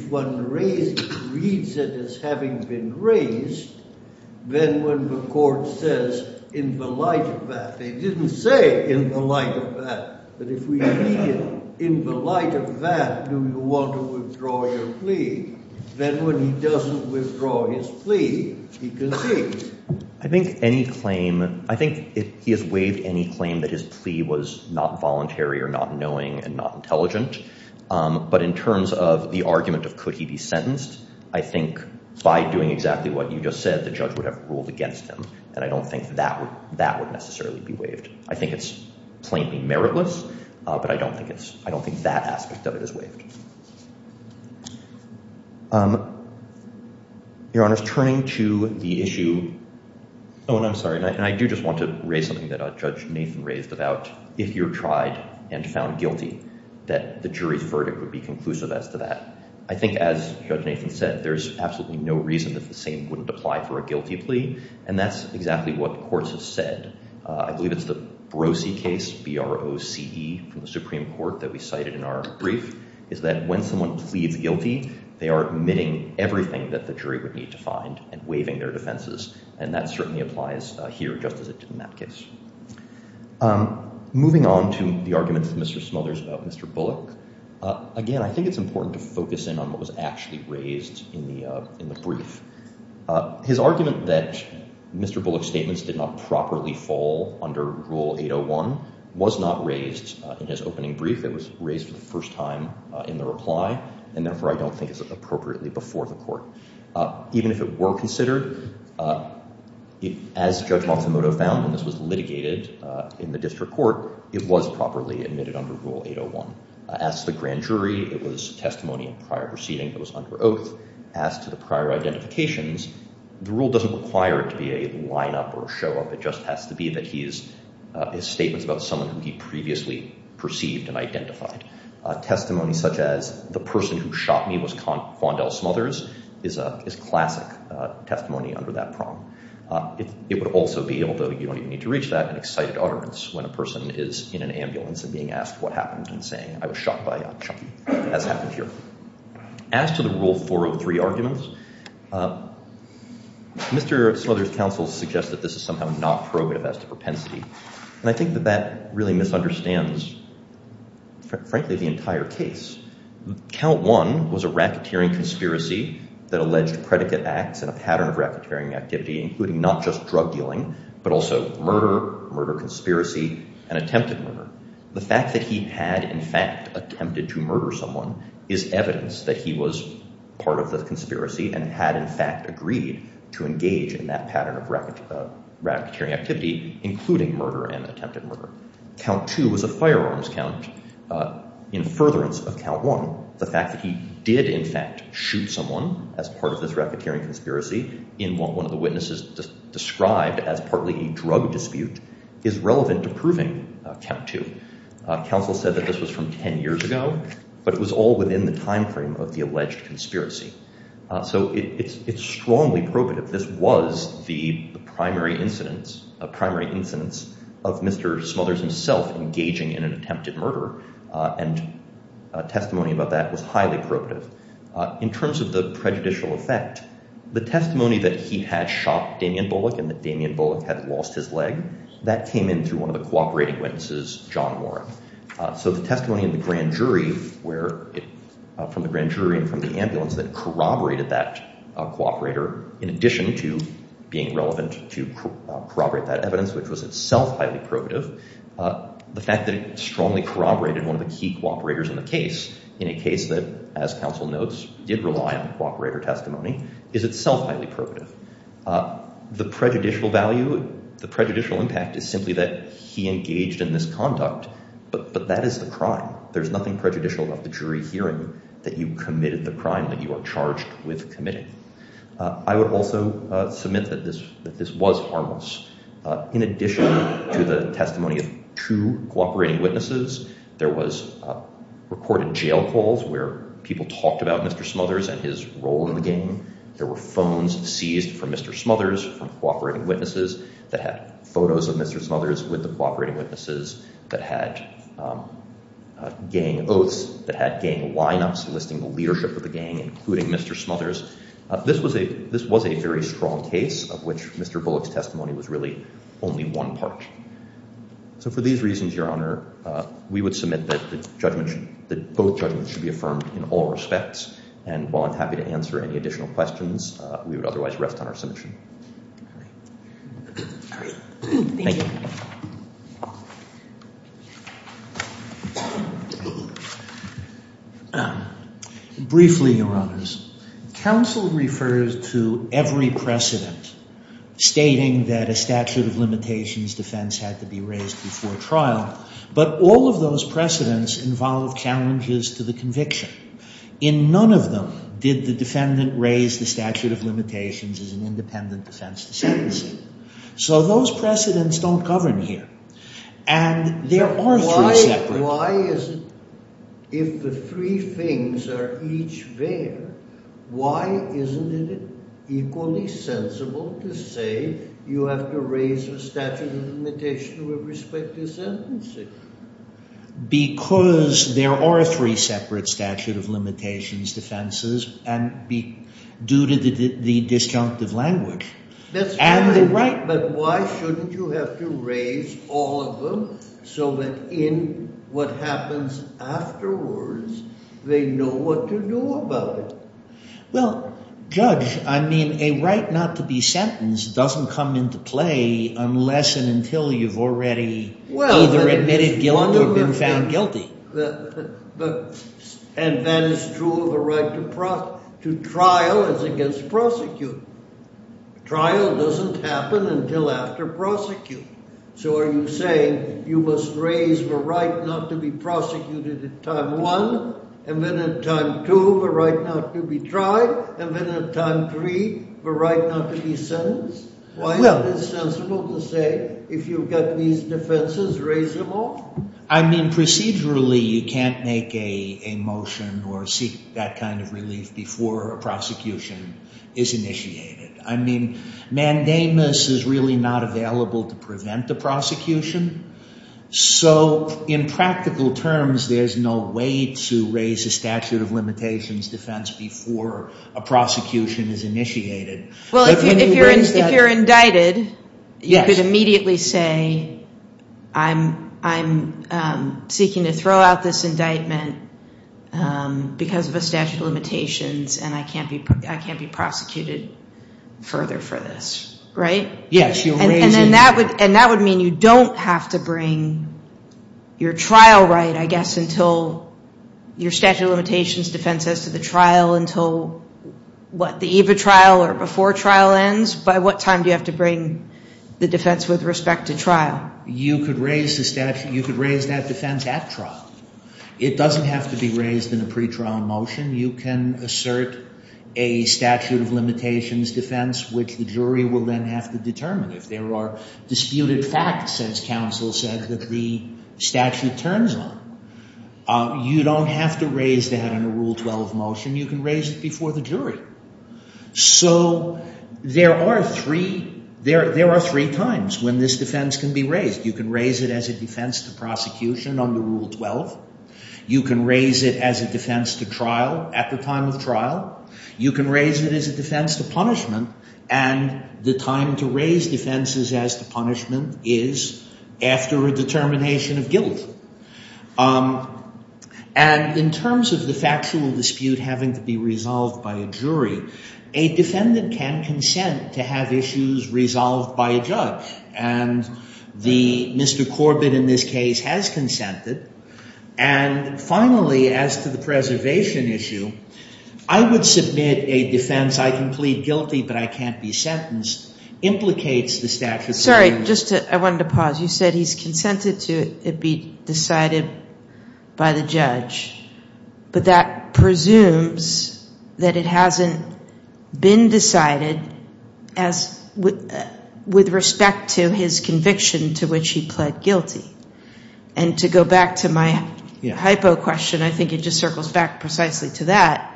one reads it as having been raised, then when the court says in the light of that, they didn't say in the light of that, but if we read it in the light of that, do you want to withdraw your plea, then when he doesn't withdraw his plea, he concedes. I think any claim—I think he has waived any claim that his plea was not voluntary or not knowing and not intelligent, but in terms of the argument of could he be sentenced, I think by doing exactly what you just said, the judge would have ruled against him, and I don't think that would necessarily be waived. I think it's plainly meritless, but I don't think that aspect of it is waived. Your Honor, turning to the issue—oh, and I'm sorry, and I do just want to raise something that Judge Nathan raised about if you're tried and found guilty, that the jury's verdict would be conclusive as to that. I think as Judge Nathan said, there's absolutely no reason that the same wouldn't apply for a guilty plea, and that's exactly what courts have said. I believe it's the Brose case, B-R-O-C-E, from the Supreme Court that we cited in our brief, is that when someone pleads guilty, they are admitting everything that the jury would need to find and waiving their defenses, and that certainly applies here just as it did in that case. Moving on to the arguments of Mr. Smothers about Mr. Bullock, again, I think it's important to focus in on what was actually raised in the brief. His argument that Mr. Bullock's statements did not properly fall under Rule 801 was not raised in his opening brief. It was raised for the first time in the reply, and therefore I don't think it's appropriately before the court. Even if it were considered, as Judge Matsumoto found, and this was litigated in the district court, it was properly admitted under Rule 801. As to the grand jury, it was testimony in prior proceeding that was under oath. As to the prior identifications, the rule doesn't require it to be a line-up or a show-up. It just has to be that his statements about someone who he previously perceived and identified. Testimony such as, the person who shot me was Fondel Smothers, is classic testimony under that prong. It would also be, although you don't even need to reach that, an excited utterance when a person is in an ambulance and being asked what happened and saying, I was shot by Chuckie, as happened here. As to the Rule 403 arguments, Mr. Smothers' counsel suggested this is somehow not prerogative as to propensity. And I think that that really misunderstands, frankly, the entire case. Count 1 was a racketeering conspiracy that alleged predicate acts in a pattern of racketeering activity, including not just drug dealing, but also murder, murder conspiracy, and attempted murder. The fact that he had, in fact, attempted to murder someone is evidence that he was part of the conspiracy and had, in fact, agreed to engage in that pattern of racketeering activity, including murder and attempted murder. Count 2 was a firearms count in furtherance of Count 1. The fact that he did, in fact, shoot someone as part of this racketeering conspiracy in what one of the witnesses described as partly a drug dispute is relevant to proving Count 2. Counsel said that this was from 10 years ago, but it was all within the time frame of the alleged conspiracy. So it's strongly probative. This was the primary incidence of Mr. Smothers himself engaging in an attempted murder, and testimony about that was highly probative. In terms of the prejudicial effect, the testimony that he had shot Damian Bullock and that Damian Bullock had lost his leg, that came in through one of the cooperating witnesses, John Warren. So the testimony from the grand jury and from the ambulance that corroborated that cooperator, in addition to being relevant to corroborate that evidence, which was itself highly probative, the fact that it strongly corroborated one of the key cooperators in the case, in a case that, as counsel notes, did rely on cooperator testimony, is itself highly probative. The prejudicial value, the prejudicial impact is simply that he engaged in this conduct, but that is the crime. There's nothing prejudicial about the jury hearing that you committed the crime that you are charged with committing. I would also submit that this was harmless. In addition to the testimony of two cooperating witnesses, there was recorded jail calls where people talked about Mr. Smothers and his role in the gang. There were phones seized from Mr. Smothers from cooperating witnesses that had photos of Mr. Smothers with the cooperating witnesses that had gang oaths, that had gang lineups listing the leadership of the gang, including Mr. Smothers. This was a very strong case of which Mr. Bullock's testimony was really only one part. So for these reasons, Your Honor, we would submit that both judgments should be affirmed in all respects, and while I'm happy to answer any additional questions, we would otherwise rest on our submission. Thank you. Briefly, Your Honors. Counsel refers to every precedent stating that a statute of limitations defense had to be raised before trial, but all of those precedents involve challenges to the conviction. In none of them did the defendant raise the statute of limitations as an independent defense to sentencing. So those precedents don't govern here, and there are three separate. Why is it, if the three things are each there, why isn't it equally sensible to say you have to raise the statute of limitations with respect to sentencing? Because there are three separate statute of limitations defenses due to the disjunctive language. That's right, but why shouldn't you have to raise all of them so that in what happens afterwards, they know what to do about it? Well, Judge, I mean, a right not to be sentenced doesn't come into play unless and until you've already either admitted guilt or been found guilty. And that is true of a right to trial as against prosecuting. Trial doesn't happen until after prosecuting. So are you saying you must raise the right not to be prosecuted at time one, and then at time two, the right not to be tried, and then at time three, the right not to be sentenced? Why isn't it sensible to say if you've got these defenses, raise them all? I mean, procedurally, you can't make a motion or seek that kind of relief before a prosecution is initiated. I mean, mandamus is really not available to prevent a prosecution. So in practical terms, there's no way to raise a statute of limitations defense before a prosecution is initiated. Well, if you're indicted, you could immediately say I'm seeking to throw out this indictment because of a statute of limitations, and I can't be prosecuted further for this, right? Yes, you'll raise it. And that would mean you don't have to bring your trial right, I guess, your statute of limitations defense as to the trial until what, the eve of trial or before trial ends? By what time do you have to bring the defense with respect to trial? You could raise the statute. You could raise that defense at trial. It doesn't have to be raised in a pretrial motion. You can assert a statute of limitations defense, which the jury will then have to determine if there are disputed facts, as counsel said, that the statute turns on. You don't have to raise that in a Rule 12 motion. You can raise it before the jury. So there are three times when this defense can be raised. You can raise it as a defense to prosecution under Rule 12. You can raise it as a defense to trial at the time of trial. You can raise it as a defense to punishment. And the time to raise defenses as to punishment is after a determination of guilt. And in terms of the factual dispute having to be resolved by a jury, a defendant can consent to have issues resolved by a judge. And the Mr. Corbett in this case has consented. And finally, as to the preservation issue, I would submit a defense, I can plead guilty but I can't be sentenced, implicates the statute of limitations. Sorry, I wanted to pause. You said he's consented to it be decided by the judge, but that presumes that it hasn't been decided with respect to his conviction to which he pled guilty. And to go back to my hypo question, I think it just circles back precisely to that.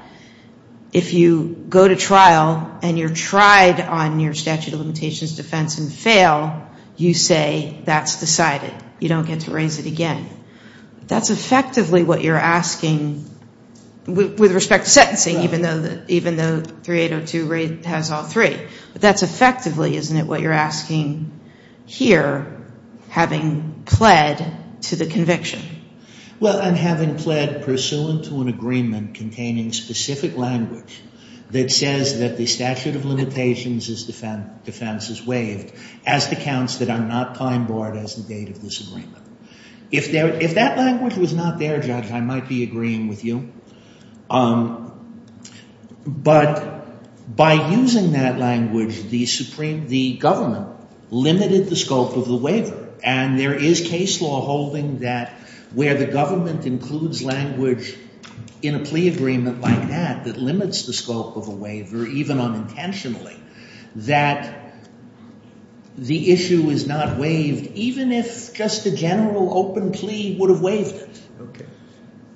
If you go to trial and you're tried on your statute of limitations defense and fail, you say that's decided. You don't get to raise it again. That's effectively what you're asking with respect to sentencing even though 3802 has all three. But that's effectively, isn't it, what you're asking here having pled to the conviction? Well, I'm having pled pursuant to an agreement containing specific language that says that the statute of limitations defense is waived as the counts that are not time barred as the date of this agreement. If that language was not there, Judge, I might be agreeing with you. But by using that language, the government limited the scope of the waiver. And there is case law holding that where the government includes language in a plea agreement like that that limits the scope of a waiver even unintentionally, that the issue is not waived even if just a general open plea would have waived it.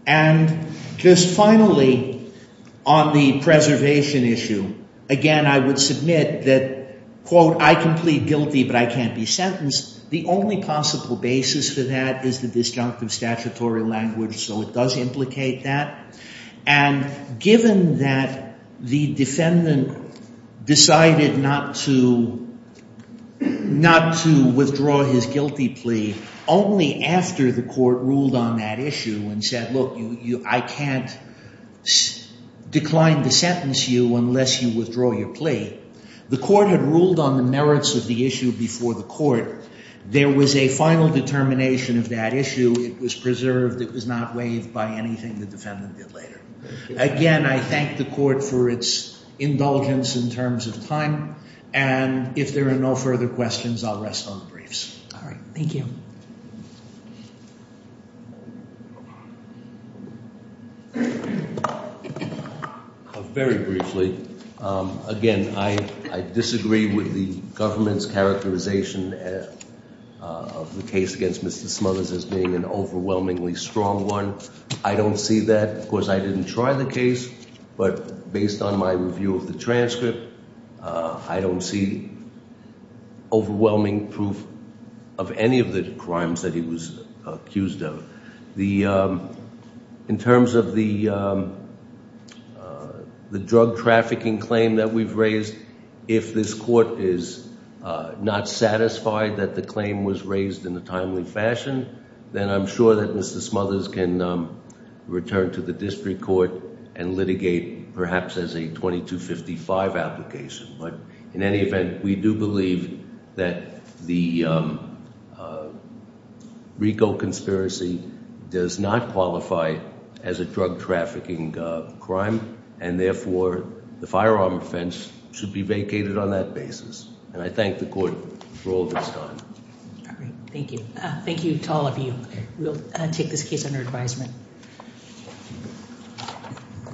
And just finally, on the preservation issue, again, I would submit that, quote, I can plead guilty but I can't be sentenced. The only possible basis for that is the disjunctive statutory language. So it does implicate that. And given that the defendant decided not to withdraw his guilty plea only after the court ruled on that issue and said, look, I can't decline to sentence you unless you withdraw your plea. The court had ruled on the merits of the issue before the court. There was a final determination of that issue. It was preserved. It was not waived by anything the defendant did later. Again, I thank the court for its indulgence in terms of time. And if there are no further questions, I'll rest on the briefs. All right. Thank you. Very briefly, again, I disagree with the government's characterization of the case against Mr. Smothers as being an overwhelmingly strong one. I don't see that. Of course, I didn't try the case, but based on my review of the transcript, I don't see overwhelming proof of any of the crimes that he was accused of. In terms of the drug trafficking claim that we've raised, if this court is not satisfied that the claim was raised in a timely fashion, then I'm sure that Mr. Smothers can return to the district court and litigate perhaps as a 2255 application. But in any event, we do believe that the RICO conspiracy does not qualify as a drug trafficking crime, and therefore, the firearm offense should be vacated on that basis. And I thank the court for all that's done. All right. Thank you. Thank you to all of you. We'll take this case under advisement.